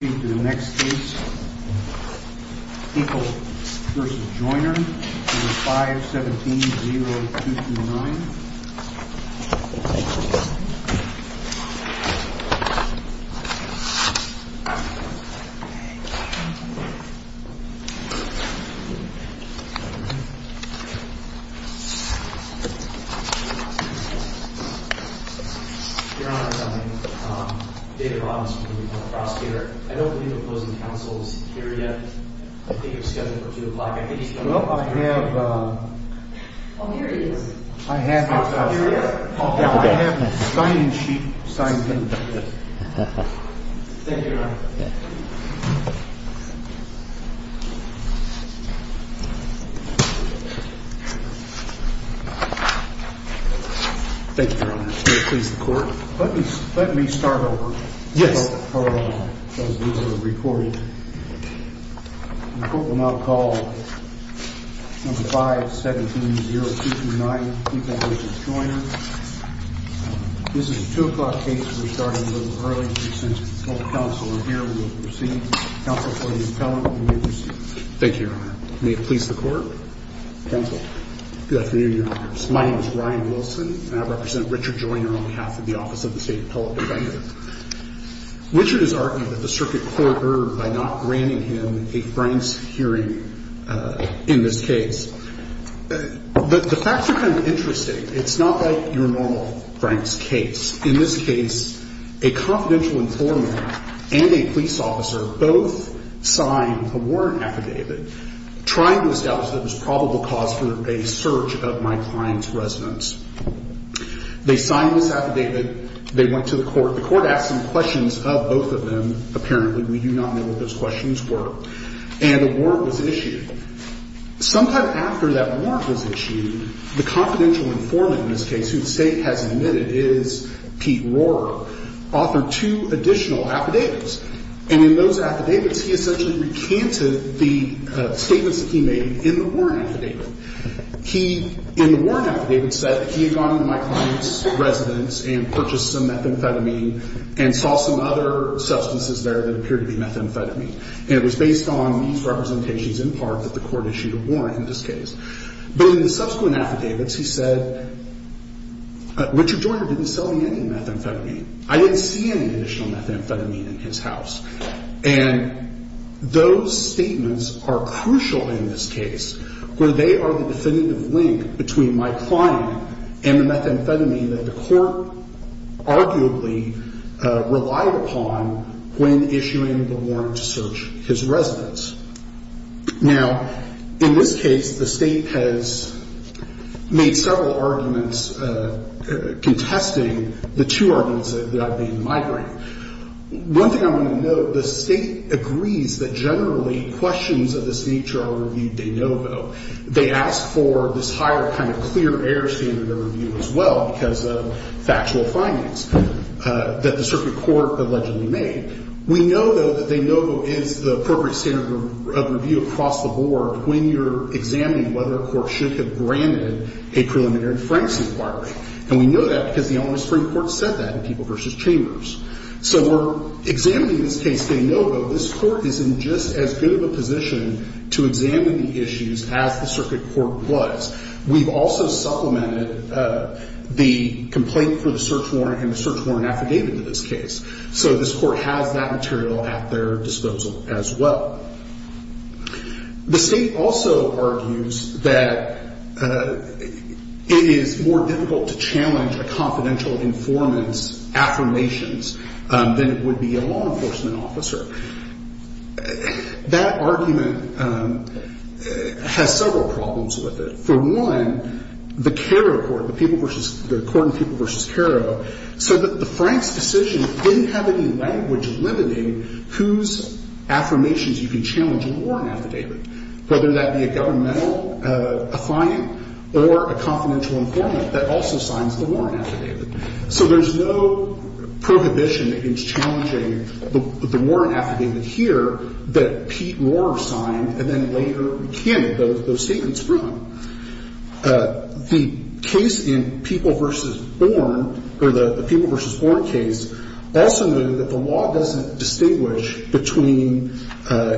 I'm going to speak to the next case, Hinkle v. Joiner, number 517-0229. I don't believe the opposing counsel is here yet. I think he's scheduled for 2 o'clock. I think he's scheduled for 2 o'clock. Well, I have a signing sheet signed by him. Thank you, Your Honor. Thank you, Your Honor. May it please the Court? Let me start over. Yes. Thank you, Your Honor. Thank you, Your Honor. May it please the Court? Thank you, Your Honor. Thank you, Your Honor. Thank you, Your Honor. It's my pleasure to be here. Please proceed. Thank you, Your Honor. Thank you, Your Honor. My name is Ryan Wilson, and I represent Richard Joiner on behalf of the Office of the State Appellate Defender. Richard has argued that the circuit court erred by not granting him a Franks hearing in this case. But the facts are kind of interesting. It's not like your normal Franks case. In this case, a confidential informant and a police officer both signed a warrant affidavit trying to establish that it was probable cause for a search of my client's residence. They signed this affidavit. They went to the court. The court asked some questions of both of them. Apparently, we do not know what those questions were. And a warrant was issued. Sometime after that warrant was issued, the confidential informant in this case, whose name is Pete Rohrer, authored two additional affidavits. And in those affidavits, he essentially recanted the statements that he made in the warrant affidavit. He, in the warrant affidavit, said that he had gone to my client's residence and purchased some methamphetamine and saw some other substances there that appeared to be methamphetamine. And it was based on these representations in part that the court issued a warrant in this case. But in the subsequent affidavits, he said, Richard Joyner didn't sell me any methamphetamine. I didn't see any additional methamphetamine in his house. And those statements are crucial in this case, where they are the definitive link between my client and the methamphetamine that the court arguably relied upon when issuing the warrant to search his residence. Now, in this case, the State has made several arguments contesting the two arguments that I've made in my grant. One thing I want to note, the State agrees that generally questions of this nature are reviewed de novo. They ask for this higher kind of clear air standard of review as well because of factual findings that the circuit court allegedly made. We know, though, that de novo is the appropriate standard of review across the board when you're examining whether a court should have granted a preliminary Franks inquiry. And we know that because the Eleanor Supreme Court said that in People v. Chambers. So we're examining this case de novo. This court is in just as good of a position to examine the issues as the circuit court was. We've also supplemented the complaint for the search warrant and the search warrant affidavit in this case. So this court has that material at their disposal as well. The State also argues that it is more difficult to challenge a confidential informant's affirmations than it would be a law enforcement officer. That argument has several problems with it. For one, the Kerro court, the people versus the court in People v. Kerro said that the state didn't have any language limiting whose affirmations you can challenge in a warrant affidavit, whether that be a governmental affiant or a confidential informant that also signs the warrant affidavit. So there's no prohibition against challenging the warrant affidavit here that Pete Rohrer The case in People v. Born, or the People v. Born case, also noted that the law doesn't distinguish between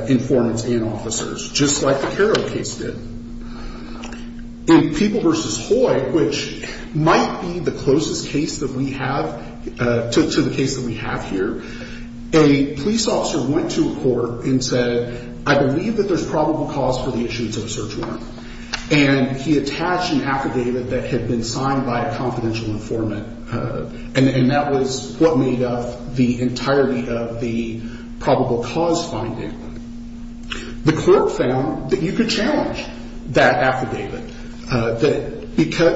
informants and officers, just like the Kerro case did. In People v. Hoy, which might be the closest case that we have to the case that we have here, a police officer went to a court and said, I believe that there's probable cause for the issuance of a search warrant, and he attached an affidavit that had been signed by a confidential informant, and that was what made up the entirety of the probable cause finding. The court found that you could challenge that affidavit, that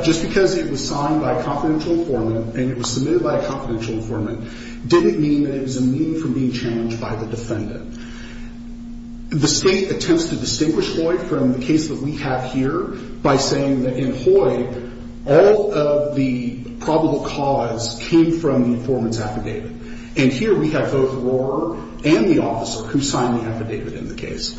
just because it was signed by a confidential informant and it was submitted by a confidential informant didn't mean that it was immune from being challenged by the defendant. The state attempts to distinguish Hoy from the case that we have here by saying that in Hoy, all of the probable cause came from the informant's affidavit. And here we have both Rohrer and the officer who signed the affidavit in the case.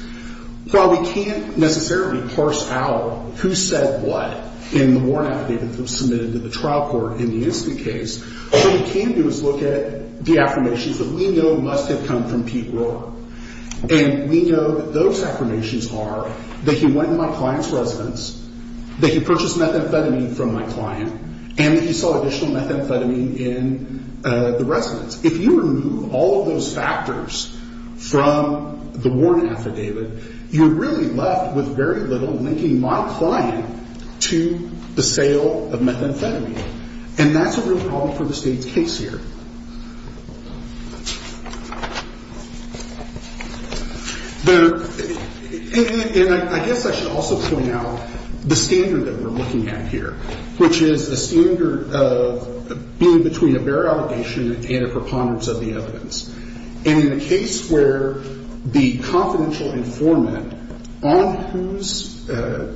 While we can't necessarily parse out who said what in the warrant affidavit that was submitted to the trial court in the incident case, what we can do is look at the affirmations that we know must have come from Pete Rohrer. And we know that those affirmations are that he went in my client's residence, that he purchased methamphetamine from my client, and that he saw additional methamphetamine in the residence. If you remove all of those factors from the warrant affidavit, you're really left with very little linking my client to the sale of methamphetamine. And that's a real problem for the state's case here. The — and I guess I should also point out the standard that we're looking at here, which is a standard of being between a bare allegation and a preponderance of the evidence. And in a case where the confidential informant on whose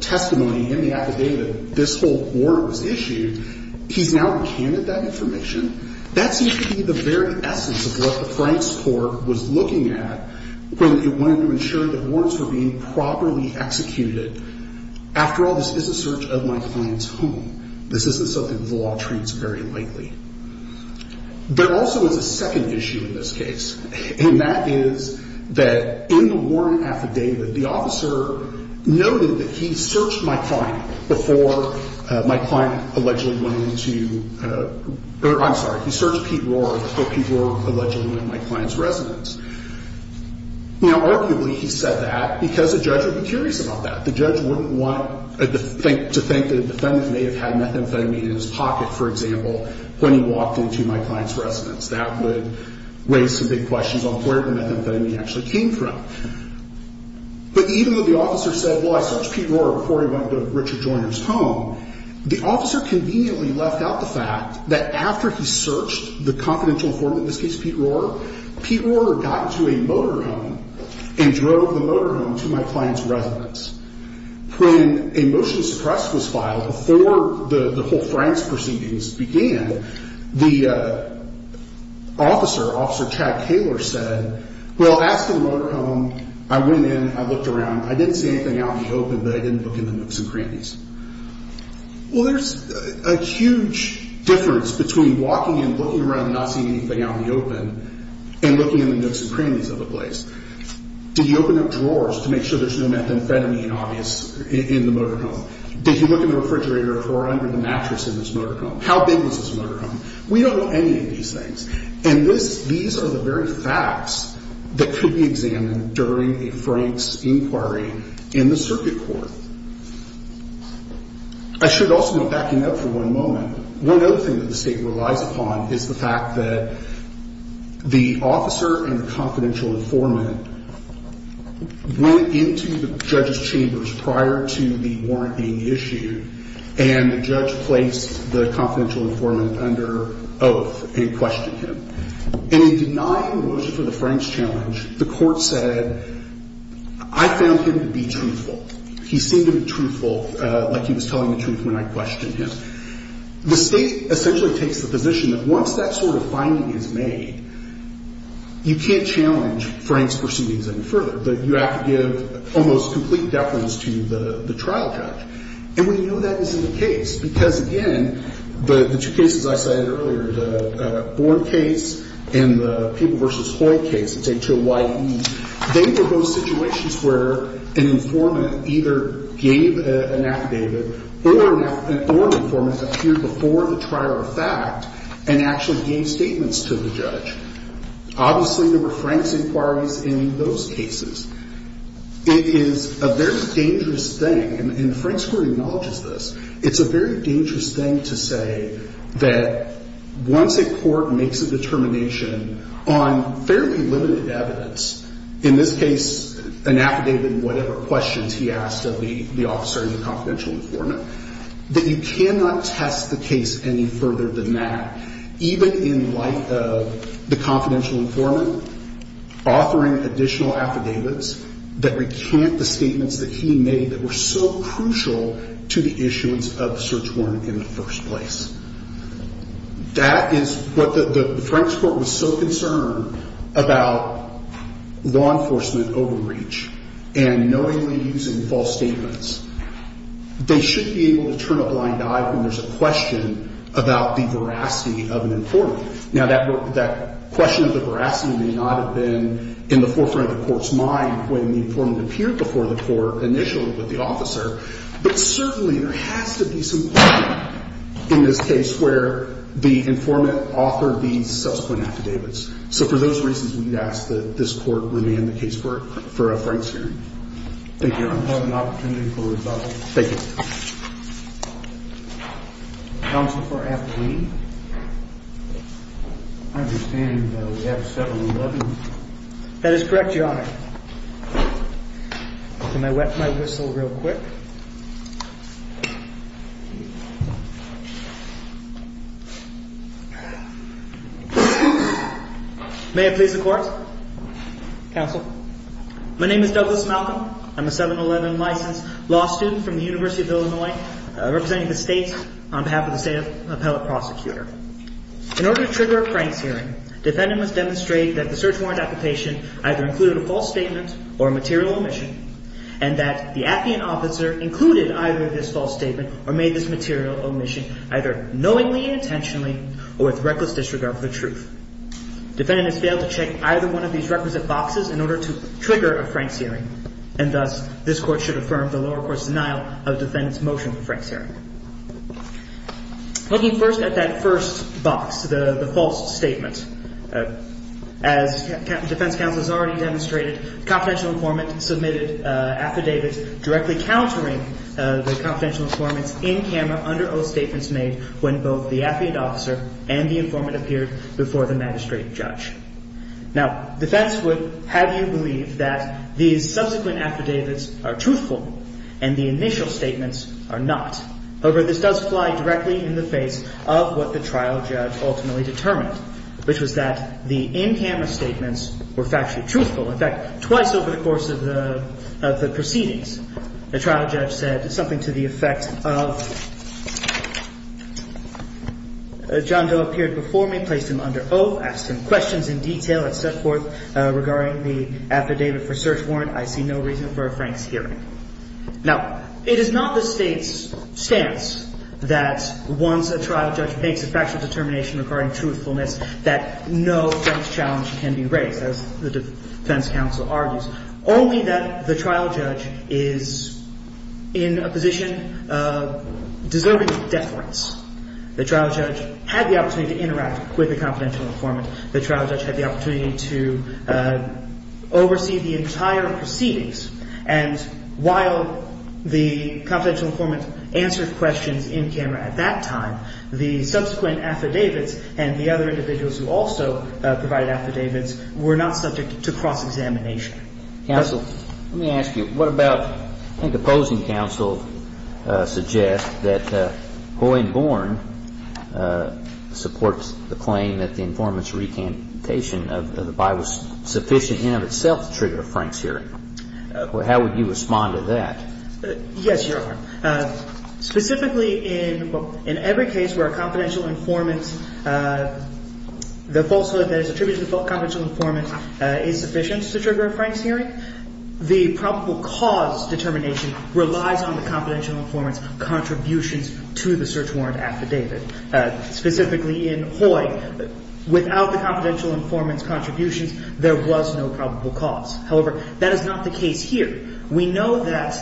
testimony in the affidavit this whole warrant was issued, he's now recanted that information. That seems to be the very essence of what the Franks Court was looking at when it wanted to ensure that warrants were being properly executed. After all, this is a search of my client's home. This isn't something the law treats very lightly. There also is a second issue in this case, and that is that in the warrant affidavit, the officer noted that he searched my client before my client allegedly went into — or, I'm sorry, he searched Pete Rohrer before Pete Rohrer allegedly went into my client's residence. Now, arguably, he said that because the judge would be curious about that. The judge wouldn't want to think that a defendant may have had methamphetamine in his pocket, for example, when he walked into my client's residence. That would raise some big questions on where the methamphetamine actually came from. But even though the officer said, well, I searched Pete Rohrer before he went into Richard Joyner's home, the officer conveniently left out the fact that after he searched the confidential form, in this case, Pete Rohrer, Pete Rohrer got into a motorhome and drove the motorhome to my client's residence. When a motion to suppress was filed before the whole Franks proceedings began, the officer, Officer Chad Kaler, said, well, after the motorhome, I went in, I looked around. I didn't see anything out in the open, but I didn't look in the nooks and crannies. Well, there's a huge difference between walking and looking around and not seeing anything out in the open and looking in the nooks and crannies of a place. Did you open up drawers to make sure there's no methamphetamine obvious in the motorhome? Did you look in the refrigerator or under the mattress in this motorhome? How big was this motorhome? We don't know any of these things. And these are the very facts that could be examined during a Franks inquiry in the circuit court. I should also be backing up for one moment. One other thing that the State relies upon is the fact that the officer and the confidential informant went into the judge's chambers prior to the warrant being issued, and the judge placed the confidential informant under oath and questioned him. In denying the motion for the Franks challenge, the court said, I found him to be truthful. He seemed to be truthful, like he was telling the truth when I questioned him. The State essentially takes the position that once that sort of finding is made, you can't challenge Franks proceedings any further, but you have to give almost complete deference to the trial judge. And we know that is the case because, again, the two cases I cited earlier, the Born case and the People v. Hoyle case, it's H-O-Y-E, they were both situations where an informant either gave an affidavit or an informant appeared before the trial of fact and actually gave statements to the judge. Obviously, there were Franks inquiries in those cases. It is a very dangerous thing, and Franks court acknowledges this, it's a very dangerous thing to say that once a court makes a determination on fairly limited evidence, in this case, an affidavit and whatever questions he asked of the officer and the confidential informant, that you cannot test the case any further than that, even in light of the confidential informant offering additional affidavits that recant the statements that he made that were so crucial to the issuance of the search warrant in the first place. That is what the Franks court was so concerned about law enforcement overreach and knowingly using false statements. They should be able to turn a blind eye when there's a question about the veracity of an informant. Now, that question of the veracity may not have been in the forefront of the court's mind when the informant appeared before the court initially with the officer, but certainly there has to be some point in this case where the informant offered these subsequent affidavits. So for those reasons, we'd ask that this court remain the case for a Franks hearing. Thank you. I have an opportunity for rebuttal. Thank you. Counsel for Appley. I understand that we have 711. That is correct, Your Honor. Let me wet my whistle real quick. May it please the court. Counsel. My name is Douglas Malcolm. I'm a 711 licensed law student from the University of Illinois, representing the state on behalf of the state appellate prosecutor. In order to trigger a Franks hearing, defendant must demonstrate that the search warrant application either included a false statement or a material omission, and that the appeant officer included either this false statement or made this material omission either knowingly, intentionally, or with reckless disregard for the truth. Defendant has failed to check either one of these requisite boxes in order to trigger a Franks hearing, and thus this court should affirm the lower court's denial of defendant's motion for Franks hearing. Looking first at that first box, the false statement, as defense counsel has already demonstrated, confidential informant submitted affidavits directly countering the confidential informants in camera under oath statements made when both the appeant officer and the informant appeared before the magistrate judge. Now, defense would have you believe that these subsequent affidavits are truthful and the initial statements are not. However, this does fly directly in the face of what the trial judge ultimately determined, which was that the in-camera statements were factually truthful. In fact, twice over the course of the proceedings, the trial judge said something to the effect of, John Doe appeared before me, placed him under oath, asked him questions in detail, and set forth regarding the affidavit for search warrant. I see no reason for a Franks hearing. Now, it is not the state's stance that once a trial judge makes a factual determination regarding truthfulness that no Franks challenge can be raised, as the defense counsel argues, only that the trial judge is in a position deserving of deference. The trial judge had the opportunity to interact with the confidential informant. The trial judge had the opportunity to oversee the entire proceedings. And while the confidential informant answered questions in camera at that time, the subsequent affidavits and the other individuals who also provided affidavits were not subject to cross-examination. Counsel, let me ask you, what about, I think opposing counsel suggests that Hoyne-Bourne supports the claim that the informant's recantation of the by was sufficient in of itself to trigger a Franks hearing. How would you respond to that? Yes, Your Honor. Specifically, in every case where a confidential informant, the falsehood that is attributed to the confidential informant is sufficient to trigger a Franks hearing, the probable cause determination relies on the confidential informant's contributions to the search warrant affidavit. Specifically in Hoyne, without the confidential informant's contributions, there was no probable cause. However, that is not the case here. We know that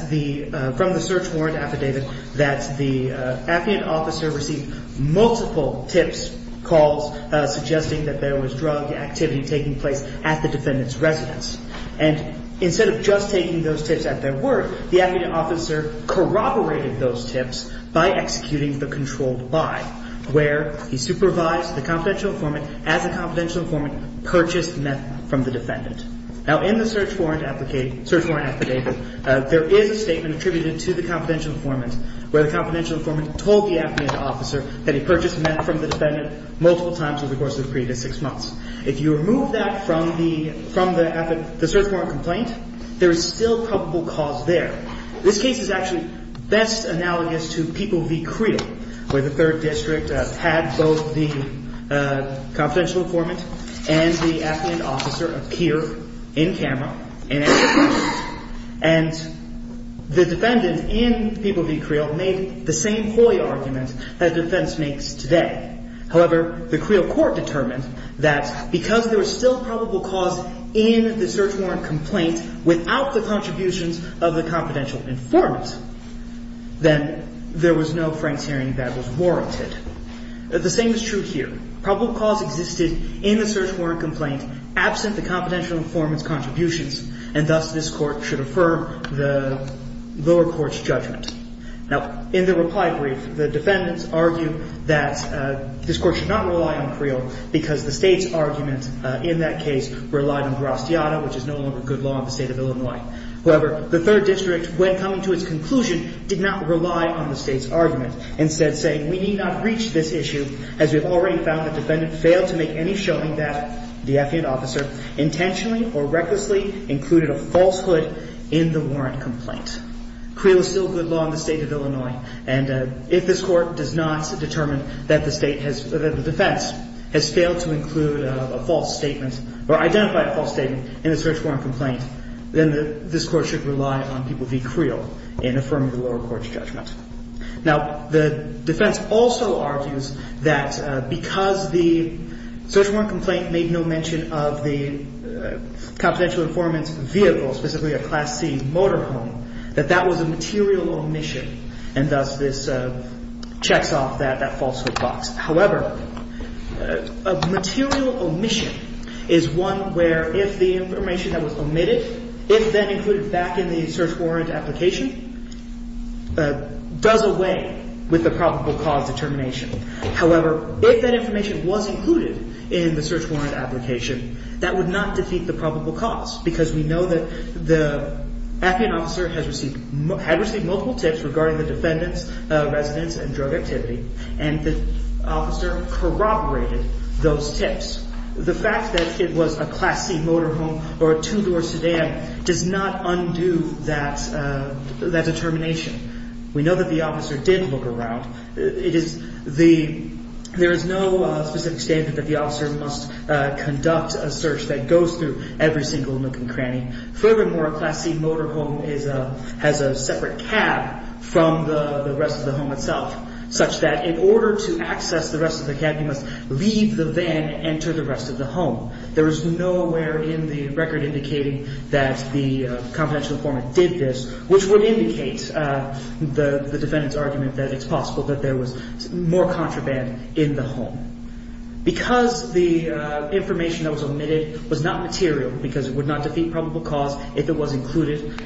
from the search warrant affidavit that the affidavit officer received multiple tips, calls, suggesting that there was drug activity taking place at the defendant's residence. And instead of just taking those tips at their word, the affidavit officer corroborated those tips by executing the controlled by, where he supervised the confidential informant as the confidential informant purchased meth from the defendant. Now, in the search warrant affidavit, there is a statement attributed to the confidential informant where the confidential informant told the affidavit officer that he purchased meth from the defendant multiple times over the course of the previous six months. If you remove that from the search warrant complaint, there is still probable cause there. This case is actually best analogous to People v. Creel, where the 3rd District had both the confidential informant and the affidavit officer appear in camera, and the defendant, in People v. Creel, made the same ploy argument that the defense makes today. However, the Creel court determined that because there was still probable cause in the search warrant complaint without the contributions of the confidential informant, then there was no Frank's hearing that was warranted. The same is true here. Probable cause existed in the search warrant complaint absent the confidential informant's contributions, and thus this court should affirm the lower court's judgment. Now, in the reply brief, the defendants argue that this court should not rely on Creel because the state's argument in that case relied on Grastiata, which is no longer good law in the state of Illinois. However, the 3rd District, when coming to its conclusion, did not rely on the state's argument, instead saying, we need not reach this issue as we have already found the defendant failed to make any showing that the affidavit officer intentionally or recklessly included a falsehood in the warrant complaint. Creel is still good law in the state of Illinois, and if this court does not determine that the defense has failed to include a false statement or identify a false statement in the search warrant complaint, then this court should rely on people v. Creel in affirming the lower court's judgment. Now, the defense also argues that because the search warrant complaint made no mention of the confidential informant's vehicle, specifically a Class C motorhome, that that was a material omission, and thus this checks off that falsehood box. However, a material omission is one where if the information that was omitted, if then included back in the search warrant application, does away with the probable cause determination. However, if that information was included in the search warrant application, that would not defeat the probable cause because we know that the affidavit officer had received multiple tips regarding the defendant's residence and drug activity, and the officer corroborated those tips. The fact that it was a Class C motorhome or a two-door sedan does not undo that determination. We know that the officer did look around. There is no specific standard that the officer must conduct a search that goes through every single nook and cranny. Furthermore, a Class C motorhome has a separate cab from the rest of the home itself, such that in order to access the rest of the cab, you must leave the van and enter the rest of the home. There is nowhere in the record indicating that the confidential informant did this, which would indicate the defendant's argument that it's possible that there was more contraband in the home. Because the information that was omitted was not material, because it would not defeat probable cause if it was included,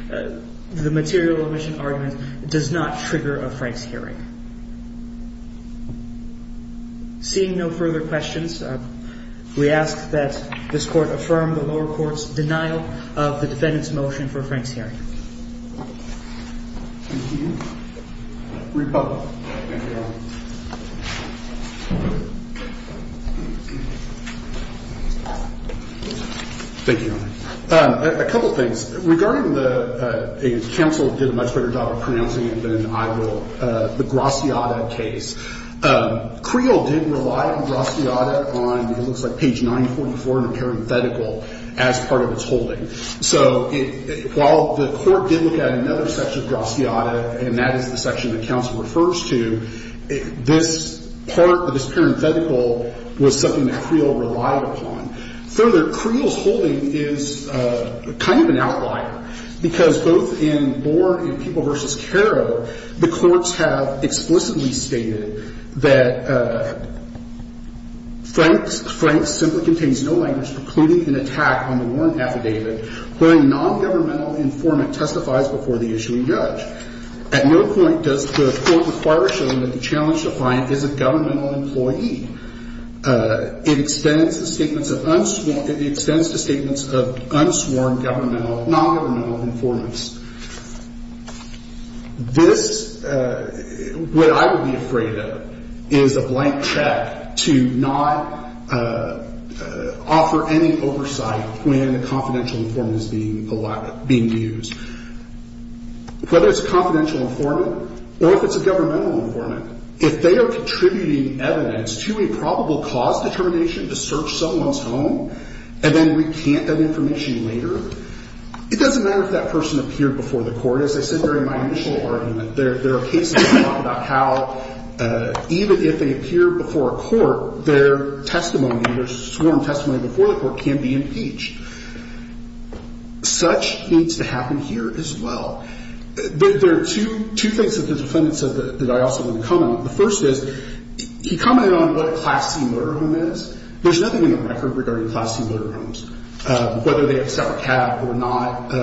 the material omission argument does not trigger a Frank's hearing. Seeing no further questions, we ask that this Court affirm the lower court's denial of the defendant's motion for a Frank's hearing. Thank you. Rebuttal. Thank you, Your Honor. Thank you, Your Honor. A couple things. Regarding the – and counsel did a much better job of pronouncing it than I will – the Graciata case. Creel did rely on Graciata on, it looks like, page 944 in the parenthetical as part of its holding. So while the Court did look at another section of Graciata, and that is the section that counsel refers to, this part of this parenthetical was something that Creel relied upon. Further, Creel's holding is kind of an outlier, because both in Borne and People v. Caro, the courts have explicitly stated that Frank's – Frank's simply contains no language precluding an attack on the warrant affidavit where a nongovernmental informant testifies before the issuing judge. At no point does the Court require showing that the challenger client is a governmental employee. It extends the statements of unsworn – it extends the statements of unsworn governmental, nongovernmental informants. This, what I would be afraid of, is a blank check to not offer any oversight when a confidential informant is being used. Whether it's a confidential informant or if it's a governmental informant, if they are contributing evidence to a probable cause determination to search someone's home, and then we can't have information later, it doesn't matter if that person appeared before the Court. As I said during my initial argument, there are cases in Napa-Dakau, even if they appear before a court, their testimony, their sworn testimony before the court can be impeached. Such needs to happen here as well. There are two things that the defendant said that I also want to comment on. The first is, he commented on what a Class C motorhome is. There's nothing in the record regarding Class C motorhomes, whether they accept a cab or not.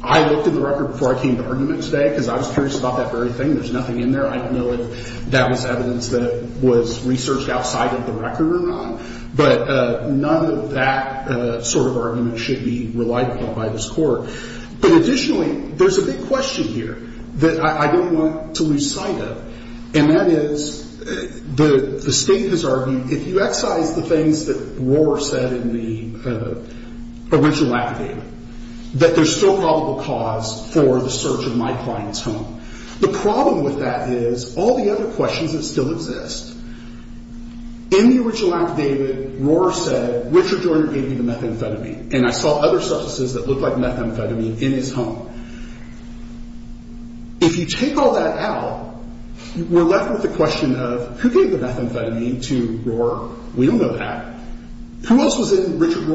I looked in the record before I came to argument today because I was curious about that very thing. There's nothing in there. I don't know if that was evidence that was researched outside of the record or not. But none of that sort of argument should be relied upon by this Court. But additionally, there's a big question here that I don't want to lose sight of. And that is, the State has argued, if you excise the things that Rohr said in the original affidavit, that there's still probable cause for the search of my client's home. The problem with that is, all the other questions that still exist, in the original affidavit, Rohr said, Richard Joyner gave me the methamphetamine, and I saw other substances that looked like methamphetamine in his home. If you take all that out, we're left with the question of, who gave the methamphetamine to Rohr? We don't know that. Who else was in Richard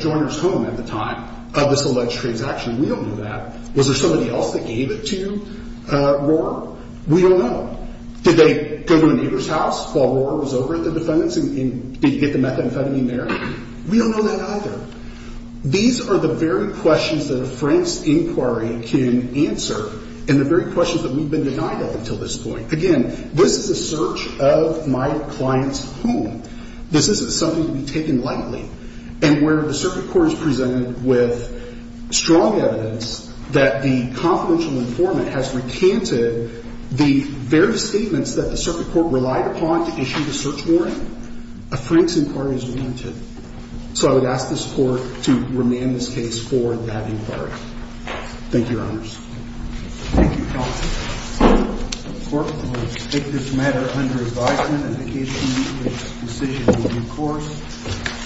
Joyner's home at the time of this alleged transaction? We don't know that. Was there somebody else that gave it to Rohr? We don't know. Did they go to the neighbor's house while Rohr was over at the defendant's and get the methamphetamine there? We don't know that either. These are the very questions that a Frank's inquiry can answer and the very questions that we've been denied up until this point. Again, this is a search of my client's home. This isn't something to be taken lightly. And where the Circuit Court has presented with strong evidence that the confidential informant has recanted the various statements that the Circuit Court relied upon to issue the search warrant, a Frank's inquiry is warranted. So I would ask this Court to remand this case for that inquiry. Thank you, Your Honors. Thank you, Counsel. The Court will take this matter under advisement, and the case committee will make a decision in due course.